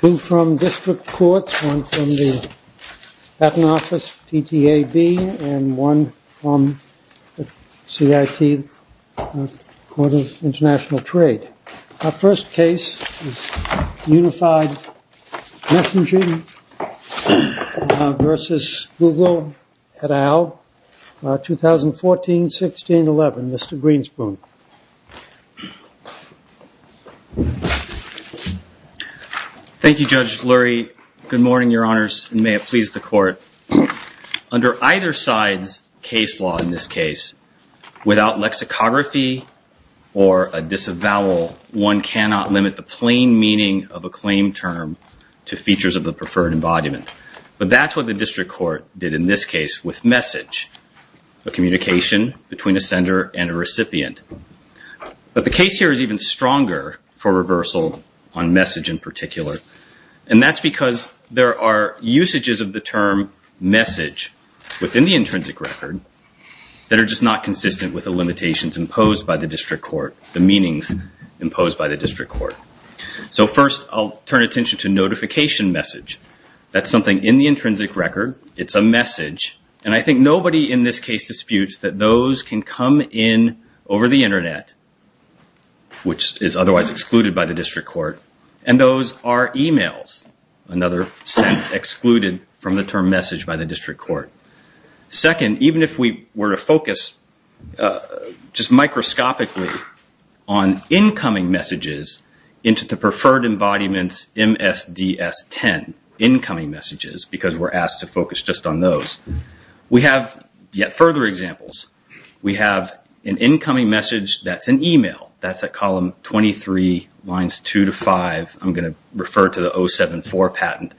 Two from District Courts, one from the Patent Office, PTAB, and one from the CIT, Court of International Trade. Our first case is Unified Messaging v. Google et al., 2014-16-11. Mr. Greenspoon. Thank you, Judge Lurie. Good morning, Your Honors, and may it please the Court. Under either side's case law in this case, without lexicography or a disavowal, one cannot limit the plain meaning of a claim term to features of the preferred embodiment. But that's what the District Court did in this case with message, a communication between a sender and a recipient. But the case here is even stronger for reversal on message in particular, and that's because there are usages of the term message within the intrinsic record that are just not consistent with the limitations imposed by the District Court, the meanings imposed by the District Court. So first, I'll turn attention to notification message. That's something in the intrinsic record. It's a message. And I think nobody in this case disputes that those can come in over the Internet, which is otherwise excluded by the District Court, and those are emails, another sense excluded from the term message by the District Court. Second, even if we were to focus just microscopically on incoming messages into the preferred embodiment's MSDS-10, incoming messages, because we're asked to focus just on those, we have yet further examples. We have an incoming message that's an email. That's at column 23, lines 2 to 5. I'm going to refer to the 074 patent.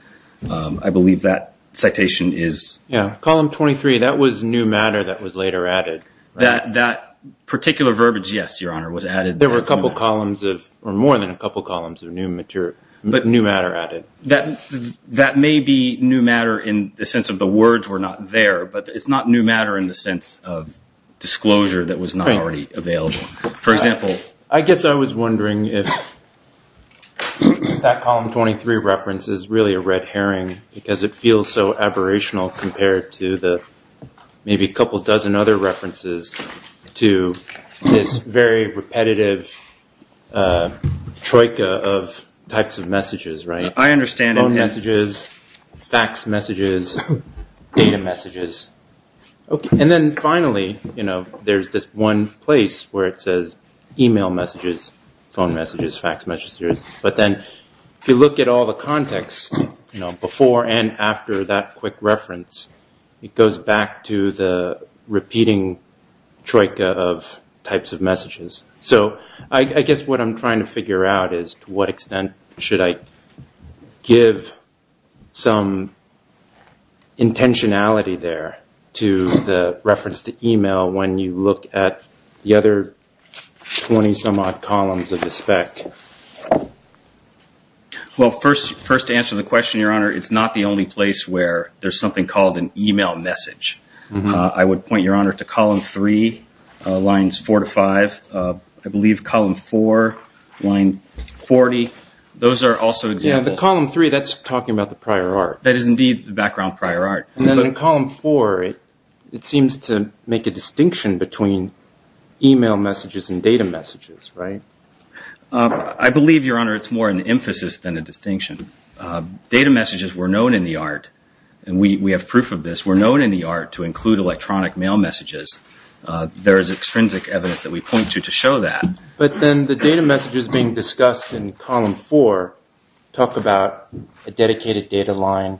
I believe that citation is... Yeah. Column 23, that was new matter that was later added. That particular verbiage, yes, Your Honor, was added. There were a couple columns of, or more than a couple columns of new material, but new matter added. That may be new matter in the sense of the words were not there, but it's not new matter in the sense of disclosure that was not already available. For example... I guess I was wondering if that column 23 reference is really a red herring, because it feels so aberrational compared to maybe a couple dozen other references to this very repetitive troika of types of messages, right? I understand... Phone messages, fax messages, data messages. Then finally, there's this one place where it says email messages, phone messages, fax messages, but then if you look at all the context before and after that quick reference, it goes back to the repeating troika of types of messages. I guess what I'm trying to figure out is to what extent should I give some intentionality there to the reference to email when you look at the other 20-some-odd columns of the spec? Well, first to answer the question, Your Honor, it's not the only place where there's something called an email message. I would point, Your Honor, to column 3, lines 4 to 5. I believe column 4, line 40, those are also examples. Yeah, the column 3, that's talking about the prior art. That is indeed the background prior art. And then in column 4, it seems to make a distinction between email messages and data messages, right? I believe, Your Honor, it's more an emphasis than a distinction. Data messages were known in the art, and we have proof of this, were known in the art to include electronic mail messages. There is extrinsic evidence that we point to to show that. But then the data messages being discussed in column 4 talk about a dedicated data line,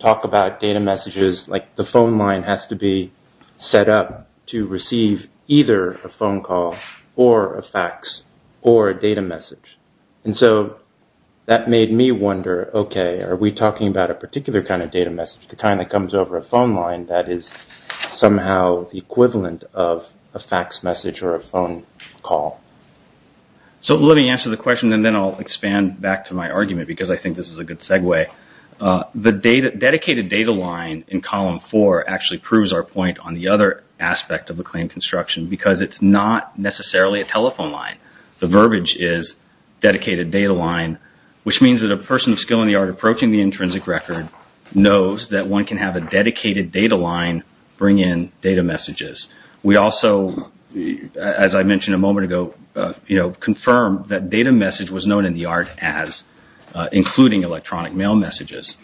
talk about data messages, like the phone line has to be set up to receive either a phone call or a fax or a data message. And so that made me wonder, okay, are we talking about a particular kind of data message, the kind that comes over a phone line that is somehow the equivalent of a fax message or a phone call? So let me answer the question, and then I'll expand back to my argument because I think this is a good segue. The dedicated data line in column 4 actually proves our point on the other aspect of the claim construction because it's not necessarily a telephone line. The verbiage is dedicated data line, which means that a person of skill in the art approaching the intrinsic record knows that one can have a dedicated data line bring in data messages. We also, as I mentioned a moment ago, confirmed that data message was known in the art as including electronic mail messages.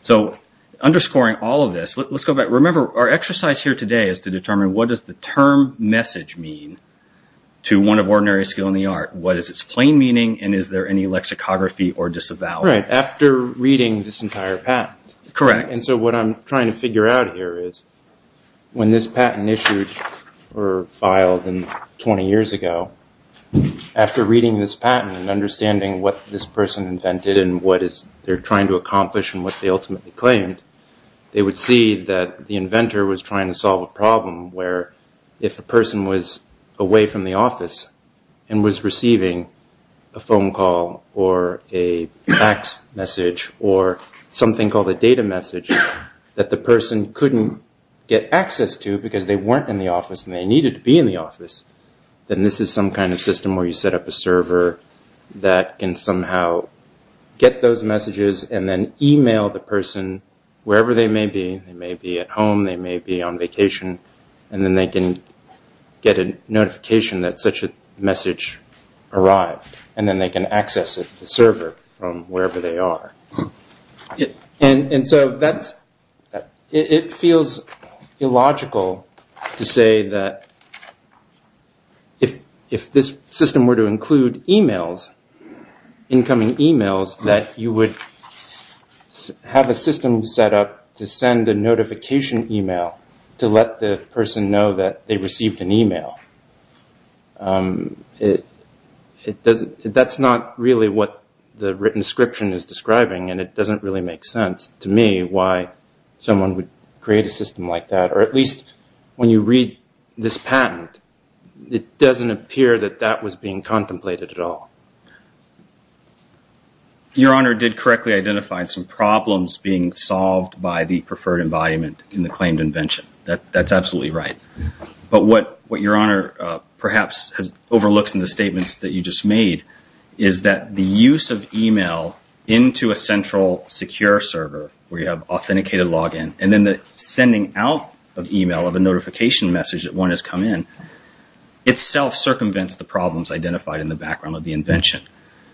So underscoring all of this, let's go back. Remember, our exercise here today is to determine what does the term message mean to one of ordinary skill in the art? What is its plain meaning, and is there any lexicography or disavowal? That's right, after reading this entire patent. Correct. And so what I'm trying to figure out here is when this patent issued or filed 20 years ago, after reading this patent and understanding what this person invented and what they're trying to accomplish and what they ultimately claimed, they would see that the inventor was trying to solve a problem where if the person was away from the office and was receiving a phone call or a fax message or something called a data message that the person couldn't get access to because they weren't in the office and they needed to be in the office, then this is some kind of system where you set up a server that can somehow get those messages and then email the person wherever they may be. They may be at home, they may be on vacation, and then they can get a notification that such a message arrived and then they can access the server from wherever they are. And so it feels illogical to say that if this system were to include emails, incoming emails, that you would have a system set up to send a notification email to let the person know that they received an email. That's not really what the written description is describing and it doesn't really make sense to me why someone would create a system like that or at least when you read this patent, it doesn't appear that that was being contemplated at all. Your Honor did correctly identify some problems being solved by the preferred environment in the claimed invention. That's absolutely right. But what Your Honor perhaps has overlooked in the statements that you just made is that the use of email into a central secure server where you have authenticated login and then the sending out of email of a notification message that one has come in itself circumvents the problems identified in the background of the invention.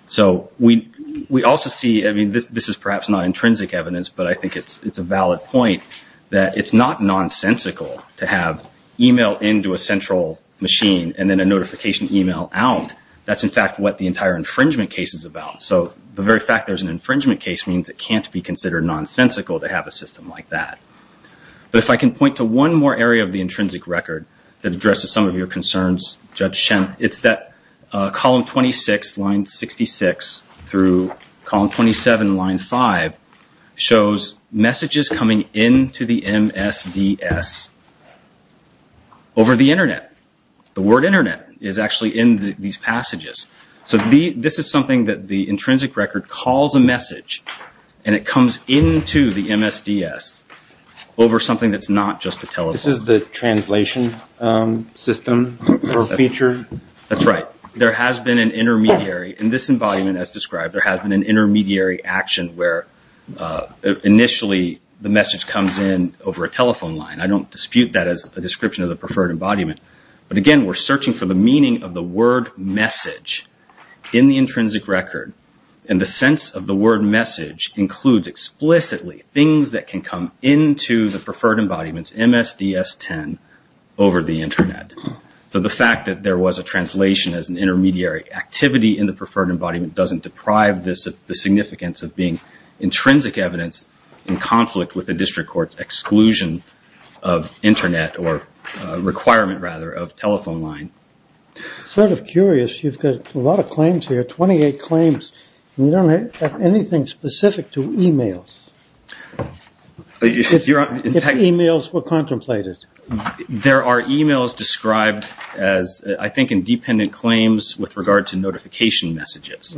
So we also see, I mean this is perhaps not intrinsic evidence, but I think it's a valid point that it's not nonsensical to have email into a central machine and then a notification email out. That's in fact what the entire infringement case is about. So the very fact there's an infringement case means it can't be considered nonsensical to have a system like that. But if I can point to one more area of the intrinsic record that addresses some of your concerns, Judge Shemp, it's that column 26, line 66 through column 27, line 5, shows messages coming into the MSDS over the Internet. The word Internet is actually in these passages. So this is something that the intrinsic record calls a message and it comes into the MSDS over something that's not just a telescope. This is the translation system or feature? That's right. There has been an intermediary, in this embodiment as described, there has been an intermediary action where initially the message comes in over a telephone line. I don't dispute that as a description of the preferred embodiment. But again, we're searching for the meaning of the word message in the intrinsic record. And the sense of the word message includes explicitly things that can come into the preferred embodiment's MSDS 10 over the Internet. So the fact that there was a translation as an intermediary activity in the preferred embodiment doesn't deprive this of the significance of being intrinsic evidence in conflict with the district court's exclusion of Internet or requirement, rather, of telephone line. Sort of curious, you've got a lot of claims here, 28 claims, and you don't have anything specific to e-mails. If e-mails were contemplated. There are e-mails described as, I think, independent claims with regard to notification messages.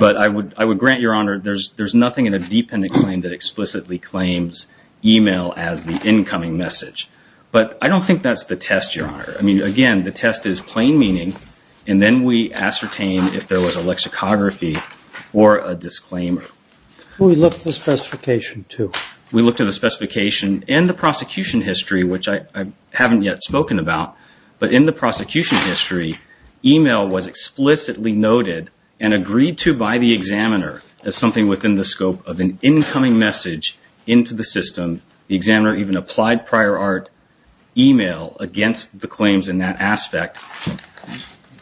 But I would grant, Your Honor, there's nothing in a dependent claim that explicitly claims e-mail as the incoming message. But I don't think that's the test, Your Honor. I mean, again, the test is plain meaning, and then we ascertain if there was a lexicography or a disclaimer. We looked at the specification, too. We looked at the specification. In the prosecution history, which I haven't yet spoken about, but in the prosecution history, e-mail was explicitly noted and agreed to by the examiner as something within the scope of an incoming message into the system. The examiner even applied prior art e-mail against the claims in that aspect,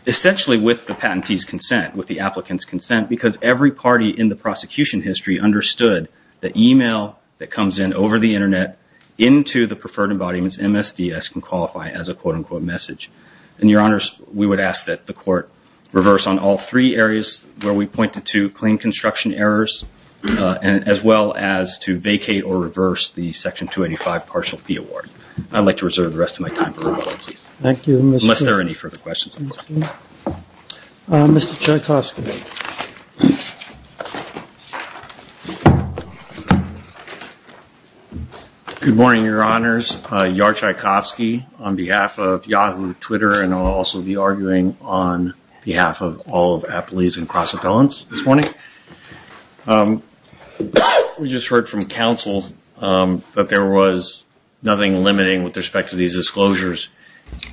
essentially with the patentee's consent, with the applicant's consent, because every party in the prosecution history understood that e-mail that comes in over the Internet into the preferred embodiments, MSDS, can qualify as a quote-unquote message. And, Your Honors, we would ask that the Court reverse on all three areas where we pointed to claim construction errors, as well as to vacate or reverse the Section 285 Partial Fee Award. I'd like to reserve the rest of my time for rebuttal, please. Thank you. Unless there are any further questions. Mr. Tchaikovsky. Good morning, Your Honors. Yar Tchaikovsky on behalf of Yahoo! Twitter, and I'll also be arguing on behalf of all of Appalachian Cross Appellants this morning. We just heard from counsel that there was nothing limiting with respect to these disclosures.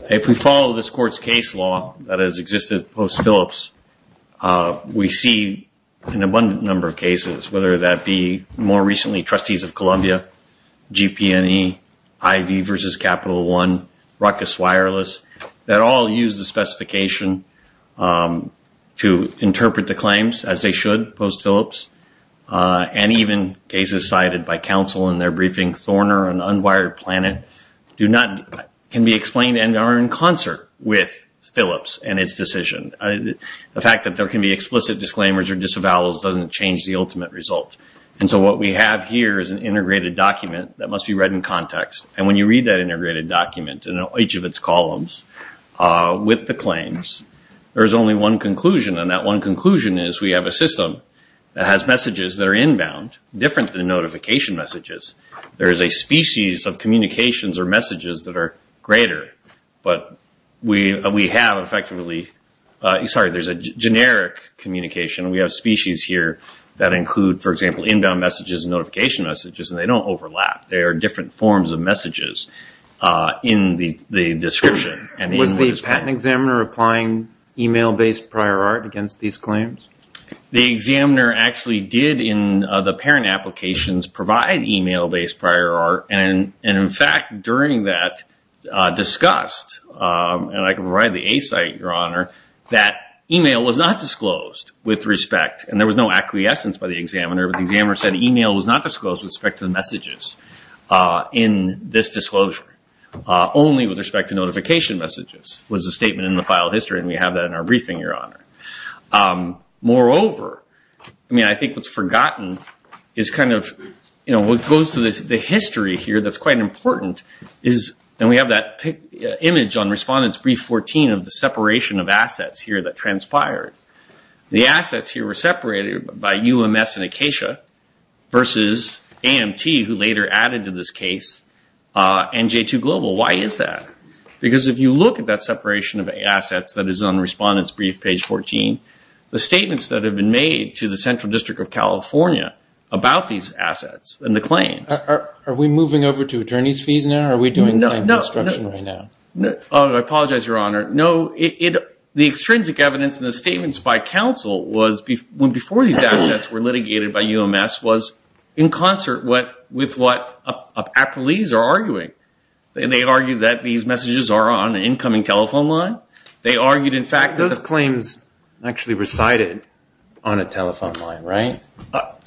If we follow this Court's case law that has existed post-Phillips, we see an abundant number of cases, whether that be more recently Trustees of Columbia, GP&E, IV versus Capital One, Ruckus Wireless, that all use the specification to interpret the claims as they should post-Phillips, and even cases cited by counsel in their briefing, Thorner and Unwired Planet, can be explained and are in concert with Phillips and its decision. The fact that there can be explicit disclaimers or disavowals doesn't change the ultimate result. What we have here is an integrated document that must be read in context, and when you read that integrated document in each of its columns with the claims, there is only one conclusion, and that one conclusion is we have a system that has messages that are inbound, different than notification messages. There is a species of communications or messages that are greater, but we have effectively, sorry, there's a generic communication. We have species here that include, for example, inbound messages and notification messages, and they don't overlap. They are different forms of messages in the description. Was the patent examiner applying email-based prior art against these claims? The examiner actually did in the parent applications provide email-based prior art, and in fact during that discussed, and I can provide the A site, Your Honor, that email was not disclosed with respect, and there was no acquiescence by the examiner, but the examiner said email was not disclosed with respect to the messages in this disclosure, only with respect to notification messages was the statement in the file history, and we have that in our briefing, Your Honor. Moreover, I mean I think what's forgotten is kind of what goes to the history here that's quite important, and we have that image on Respondent's Brief 14 of the separation of assets here that transpired. The assets here were separated by UMS and Acacia versus AMT, who later added to this case, and J2 Global. Why is that? Because if you look at that separation of assets that is on Respondent's Brief, page 14, the statements that have been made to the Central District of California about these assets and the claim. Are we moving over to attorney's fees now? Are we doing claim construction right now? No. I apologize, Your Honor. No. The extrinsic evidence in the statements by counsel was before these assets were litigated by UMS was in concert with what these messages are on an incoming telephone line. They argued in fact that- Those claims actually recited on a telephone line, right?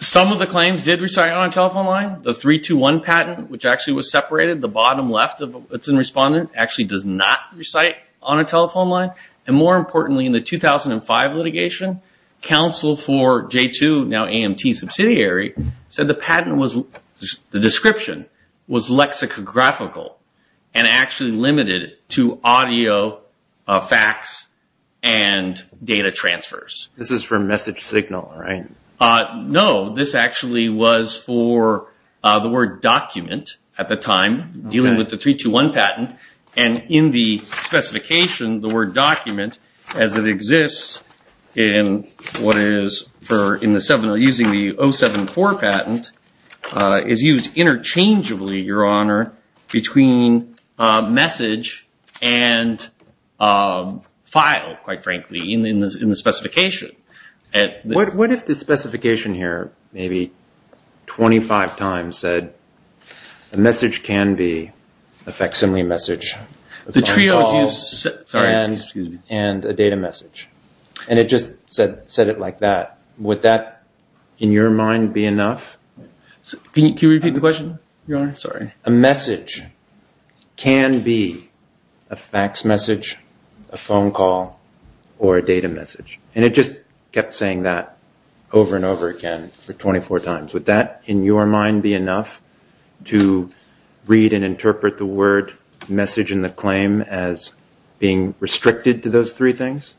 Some of the claims did recite on a telephone line. The 321 patent, which actually was separated, the bottom left of what's in Respondent, actually does not recite on a telephone line. And more importantly, in the 2005 litigation, counsel for J2, now AMT subsidiary, said the patent was, the description was lexicographical and actually limited to audio, facts, and data transfers. This is for message signal, right? No. This actually was for the word document at the time, dealing with the 321 patent. And in the specification, the word document, as it exists in what is for using the 074 patent, is used interchangeably, Your Honor, between message and file, quite frankly, in the specification. What if the specification here, maybe 25 times, said, a message can be a facsimile message, a phone call, and a data message? And it just said it like that. Would that, in your mind, be enough? Can you repeat the question, Your Honor? Sorry. A message can be a fax message, a phone call, or a data message. And it just kept saying that over and over again for 24 times. Would that, in your mind, be enough to read and interpret the word message and the claim as being restricted to those three things?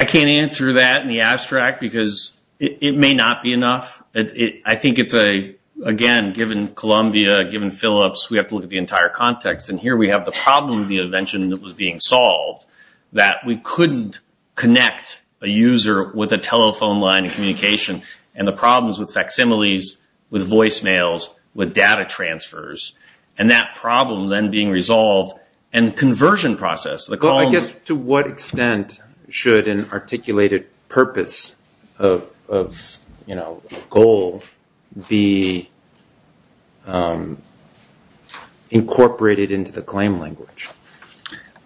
I can't answer that in the abstract because it may not be enough. I think it's a, again, given Columbia, given Phillips, we have to look at the entire context. And here we have the problem of the invention that was being solved, that we couldn't connect a user with a telephone line of communication, and the problems with facsimiles, with voicemails, with data transfers, and that problem then being resolved, and the conversion process. I guess to what extent should an articulated purpose of goal be incorporated into the claim language?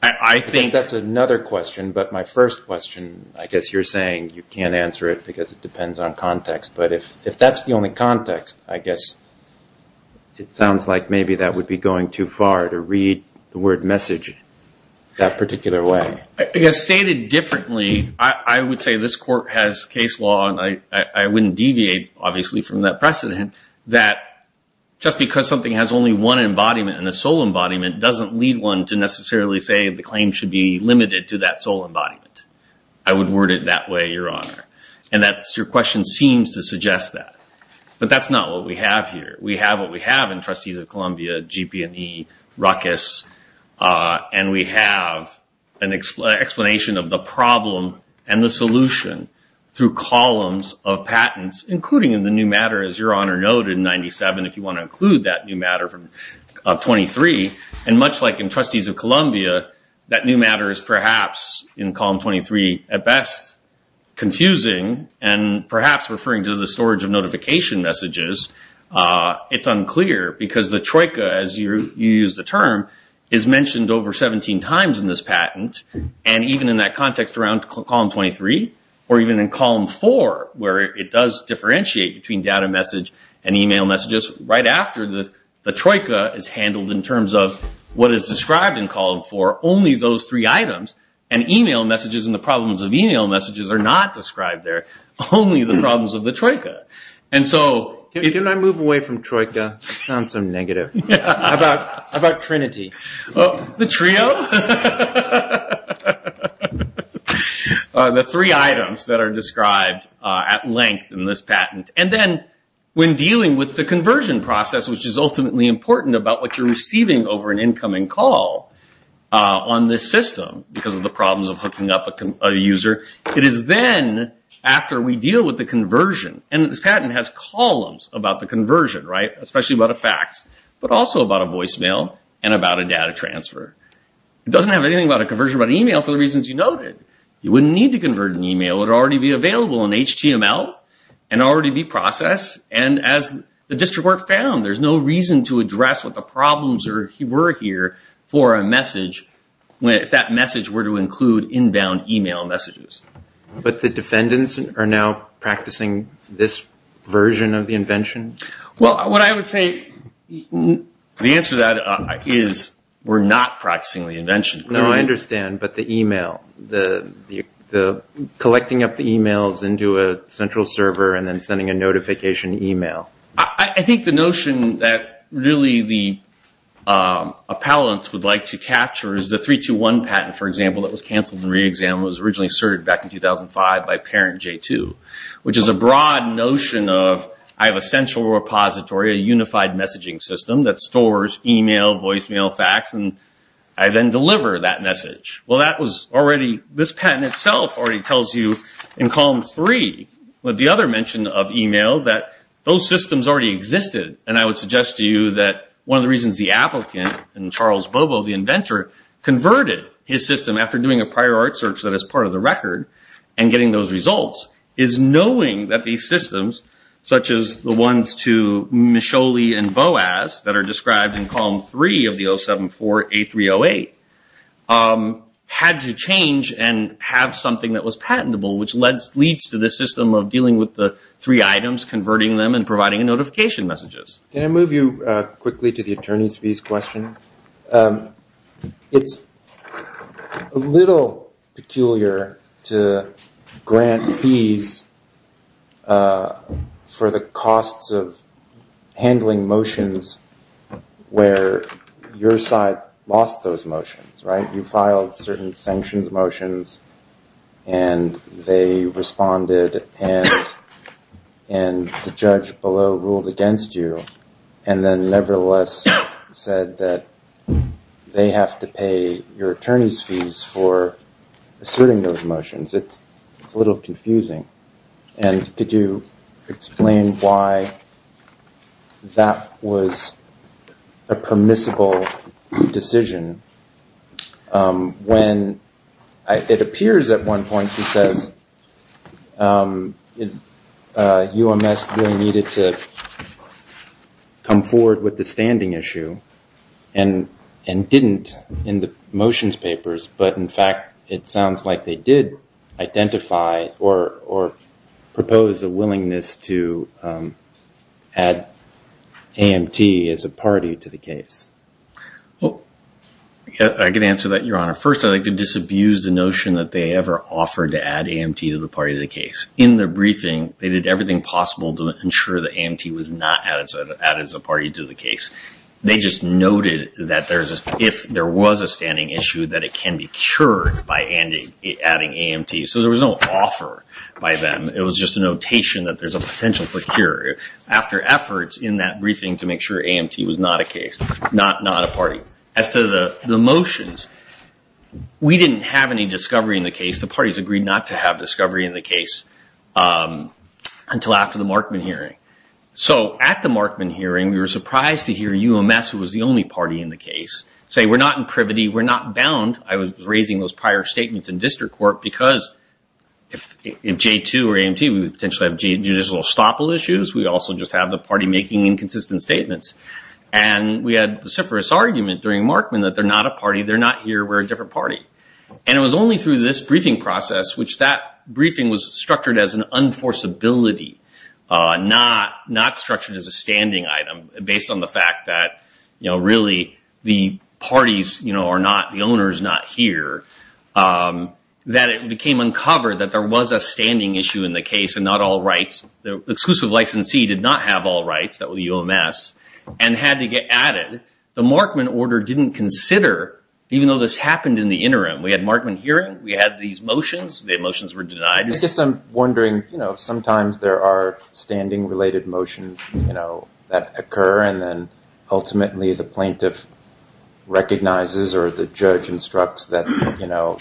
I think that's another question, but my first question, I guess you're saying you can't answer it because it depends on context. But if that's the only context, I guess it sounds like maybe that would be going too far to read the word message that particular way. I guess stated differently, I would say this court has case law, and I wouldn't deviate, obviously, from that precedent, that just because something has only one embodiment and a sole embodiment doesn't lead one to necessarily say the claim should be limited to that sole embodiment. I would word it that way, Your Honor. And your question seems to suggest that. But that's not what we have here. We have what we have in Trustees of Columbia, GP&E, ruckus, and we have an explanation of the problem and the solution through columns of patents, including in the new matter, as Your Honor noted in 97, if you want to include that new matter from 23. And much like in Trustees of Columbia, that new matter is perhaps in column 23 at best confusing and perhaps referring to the storage of notification messages. It's unclear because the troika, as you use the term, is mentioned over 17 times in this patent. And even in that context around column 23, or even in column 4, where it does differentiate between data message and e-mail messages, right after the troika is handled in terms of what is described in column 4, only those three items, and e-mail messages and the problems of e-mail messages are not described there, only the problems of the troika. Can I move away from troika? That sounds so negative. How about Trinity? The trio? The three items that are described at length in this patent. And then when dealing with the conversion process, which is ultimately important about what you're receiving over an incoming call on this system, because of the problems of hooking up a user, it is then, after we deal with the conversion, and this patent has columns about the conversion, right, especially about a fax, but also about a voicemail and about a data transfer. It doesn't have anything about a conversion about e-mail for the reasons you noted. You wouldn't need to convert an e-mail. It would already be available in HTML and already be processed. And as the district court found, there's no reason to address what the problems were here for a message if that message were to include inbound e-mail messages. But the defendants are now practicing this version of the invention? Well, what I would say, the answer to that is we're not practicing the invention. No, I understand. But the e-mail, collecting up the e-mails into a central server and then sending a notification e-mail. I think the notion that really the appellants would like to capture is the 321 patent, for example, that was canceled in re-exam was originally asserted back in 2005 by parent J2, which is a broad notion of I have a central repository, a unified messaging system, that stores e-mail, voicemail, fax, and I then deliver that message. Well, that was already, this patent itself already tells you in column 3, with the other mention of e-mail, that those systems already existed. And I would suggest to you that one of the reasons the applicant and Charles Bobo, the inventor, converted his system after doing a prior art search that is part of the record and getting those results, is knowing that these systems, such as the ones to Micholi and Boas, that are described in column 3 of the 0748308, had to change and have something that was patentable, which leads to this system of dealing with the three items, converting them, and providing notification messages. Can I move you quickly to the attorney's fees question? It's a little peculiar to grant fees for the costs of handling motions where your side lost those motions, right? You filed certain sanctions motions and they responded and the judge below ruled against you and then nevertheless said that they have to pay your attorney's fees for asserting those motions. It's a little confusing. And could you explain why that was a permissible decision when it appears at one point, she says, UMS really needed to come forward with the standing issue and didn't in the motions papers, but in fact it sounds like they did identify or propose a willingness to add AMT as a party to the case. I can answer that, Your Honor. First, I'd like to disabuse the notion that they ever offered to add AMT to the party of the case. In the briefing, they did everything possible to ensure that AMT was not added as a party to the case. They just noted that if there was a standing issue, that it can be cured by adding AMT. So there was no offer by them. It was just a notation that there's a potential for cure. After efforts in that briefing to make sure AMT was not a case, not a party. As to the motions, we didn't have any discovery in the case. The parties agreed not to have discovery in the case until after the Markman hearing. At the Markman hearing, we were surprised to hear UMS, who was the only party in the case, say we're not in privity. We're not bound. I was raising those prior statements in district court because if J2 or AMT, we would potentially have judicial estoppel issues. We also just have the party making inconsistent statements. We had a vociferous argument during Markman that they're not a party. They're not here. We're a different party. It was only through this briefing process, which that briefing was structured as an unforceability, not structured as a standing item based on the fact that really the parties are not, the owner is not here, that it became uncovered that there was a standing issue in the case and not all rights. The exclusive licensee did not have all rights, that was UMS, and had to get added. The Markman order didn't consider, even though this happened in the interim. We had Markman hearing. We had these motions. The motions were denied. I guess I'm wondering, sometimes there are standing-related motions that occur, and then ultimately the plaintiff recognizes or the judge instructs that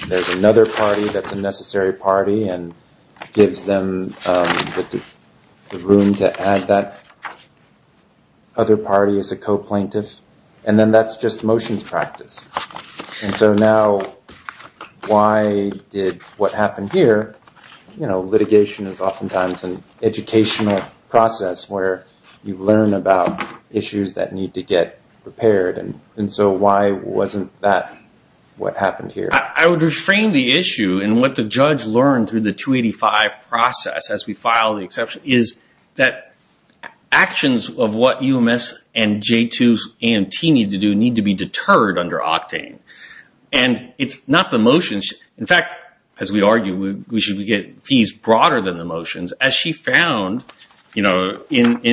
there's another party that's a necessary party and gives them the room to add that other party as a co-plaintiff, and then that's just motions practice. Now, why did what happened here? Litigation is oftentimes an educational process where you learn about issues that need to get prepared. Why wasn't that what happened here? I would reframe the issue, and what the judge learned through the 285 process as we filed the exception, is that actions of what UMS and J2 AMT need to do need to be deterred under Octane. It's not the motions. In fact, as we argue, we should get fees broader than the motions, as she found in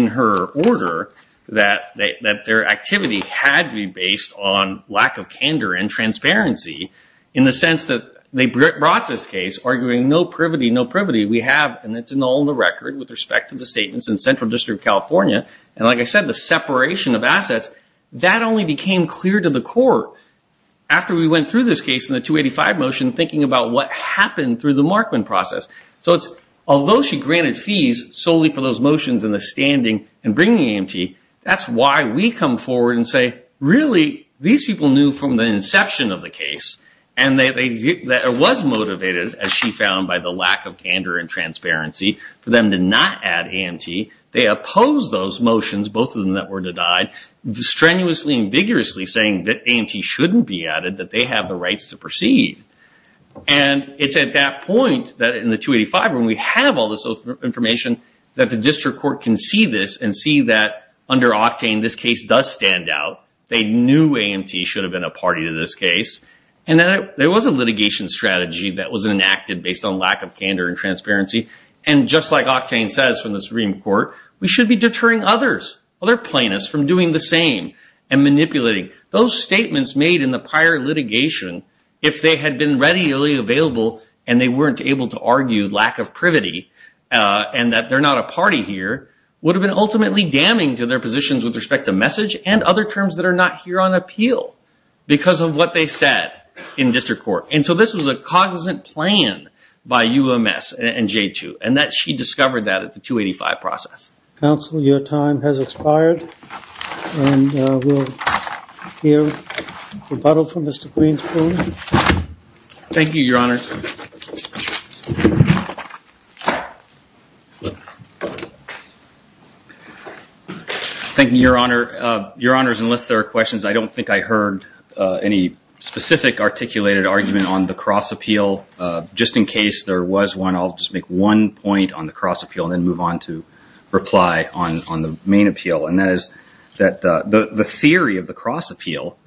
her order that their activity had to be based on lack of candor and transparency, in the sense that they brought this case, arguing no privity, no privity. We have, and it's in all the record with respect to the statements in Central District of California, and like I said, the separation of assets, that only became clear to the court after we went through this case in the 285 motion, thinking about what happened through the Markman process. Although she granted fees solely for those motions and the standing and bringing AMT, that's why we come forward and say, really, these people knew from the inception of the case, and it was motivated, as she found, by the lack of candor and transparency for them to not add AMT. They opposed those motions, both of them that were denied, strenuously and vigorously saying that AMT shouldn't be added, that they have the rights to proceed. It's at that point in the 285, when we have all this information, that the district court can see this and see that under Octane, this case does stand out. They knew AMT should have been a party to this case, and there was a litigation strategy that was enacted based on lack of candor and transparency, and just like Octane says from the Supreme Court, we should be deterring others, other plaintiffs, from doing the same and manipulating. Those statements made in the prior litigation, if they had been readily available and they weren't able to argue lack of privity and that they're not a party here, would have been ultimately damning to their positions with respect to message and other terms that are not here on appeal because of what they said in district court. And so this was a cognizant plan by UMS and J2, and she discovered that at the 285 process. Counsel, your time has expired, and we'll hear rebuttal from Mr. Greenspoon. Thank you, Your Honors. Thank you, Your Honor. Your Honors, unless there are questions, I don't think I heard any specific articulated argument on the cross appeal. Just in case there was one, I'll just make one point on the cross appeal and then move on to reply on the main appeal, and that is that the theory of the cross appeal,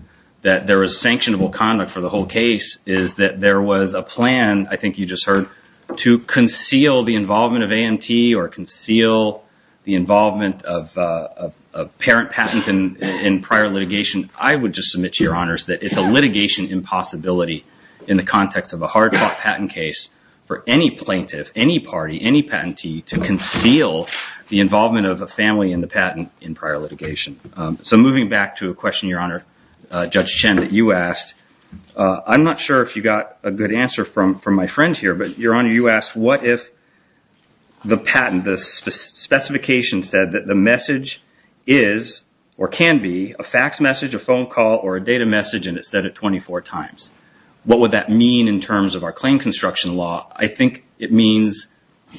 that there is sanctionable conduct for the whole case, is that there was a plan, I think you just heard, to conceal the involvement of AMT or conceal the involvement of parent patent in prior litigation. I would just submit to Your Honors that it's a litigation impossibility in the context of a hard-fought patent case for any plaintiff, any party, any patentee to conceal the involvement of a family in the patent in prior litigation. So moving back to a question, Your Honor, Judge Chen, that you asked, I'm not sure if you got a good answer from my friend here, but Your Honor, you asked, what if the patent, the specification said that the message is or can be a fax message, a phone call, or a data message, and it said it 24 times? What would that mean in terms of our claim construction law? I think it means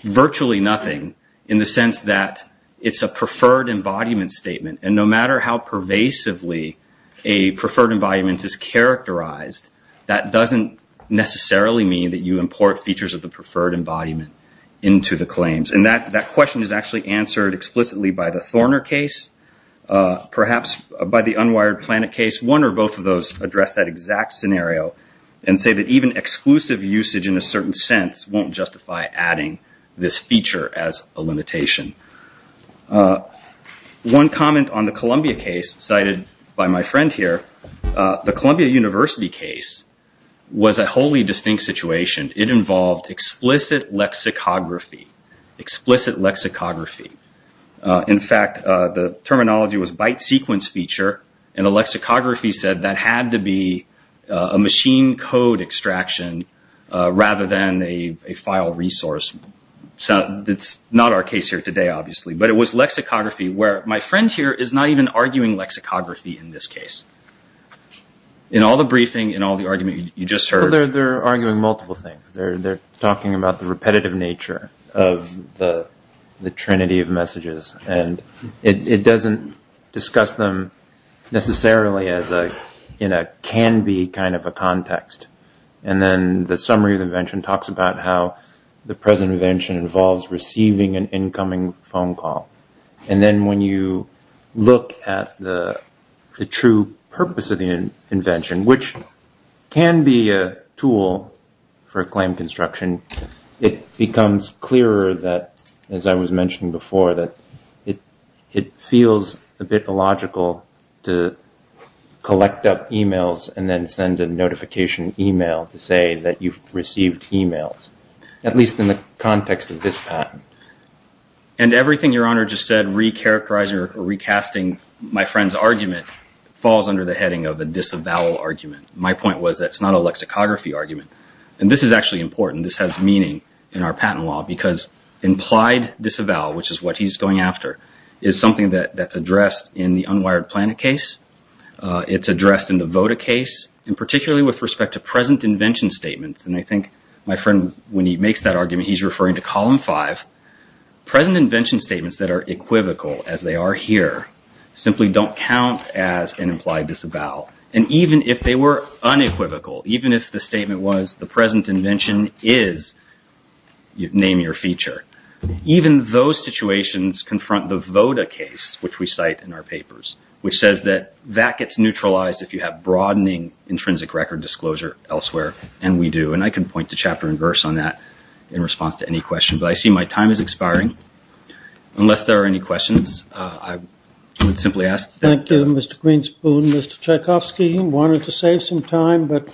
virtually nothing in the sense that it's a preferred embodiment statement and no matter how pervasively a preferred embodiment is characterized, that doesn't necessarily mean that you import features of the preferred embodiment into the claims. And that question is actually answered explicitly by the Thorner case, perhaps by the unwired planet case. One or both of those address that exact scenario and say that even exclusive usage in a certain sense won't justify adding this feature as a limitation. One comment on the Columbia case cited by my friend here, the Columbia University case was a wholly distinct situation. It involved explicit lexicography, explicit lexicography. In fact, the terminology was byte sequence feature, and the lexicography said that had to be a machine code extraction rather than a file resource. That's not our case here today, obviously, but it was lexicography where my friend here is not even arguing lexicography in this case. In all the briefing, in all the argument you just heard. Well, they're arguing multiple things. They're talking about the repetitive nature of the trinity of messages, and it doesn't discuss them necessarily in a can-be kind of a context. And then the summary of the invention talks about how the present invention involves receiving an incoming phone call. And then when you look at the true purpose of the invention, which can be a tool for claim construction, it becomes clearer that, as I was mentioning before, that it feels a bit illogical to collect up emails and then send a notification email to say that you've received emails, at least in the context of this patent. And everything Your Honor just said, recharacterizing or recasting my friend's argument, falls under the heading of a disavowal argument. My point was that it's not a lexicography argument. And this is actually important. This has meaning in our patent law, because implied disavowal, which is what he's going after, is something that's addressed in the Unwired Planet case. It's addressed in the Voda case, and particularly with respect to present invention statements. And I think my friend, when he makes that argument, he's referring to Column 5. Present invention statements that are equivocal, as they are here, simply don't count as an implied disavowal. And even if they were unequivocal, even if the statement was, the present invention is, name your feature, even those situations confront the Voda case, which we cite in our papers, which says that that gets neutralized if you have broadening intrinsic record disclosure elsewhere. And we do. And I can point to chapter and verse on that in response to any question. But I see my time is expiring. Unless there are any questions, I would simply ask that. Thank you, Mr. Greenspoon. Mr. Tchaikovsky, you wanted to save some time, but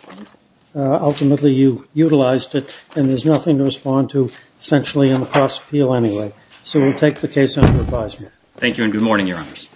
ultimately you utilized it, and there's nothing to respond to, essentially, on the cost appeal anyway. So we'll take the case under advisement. Thank you, and good morning, Your Honors.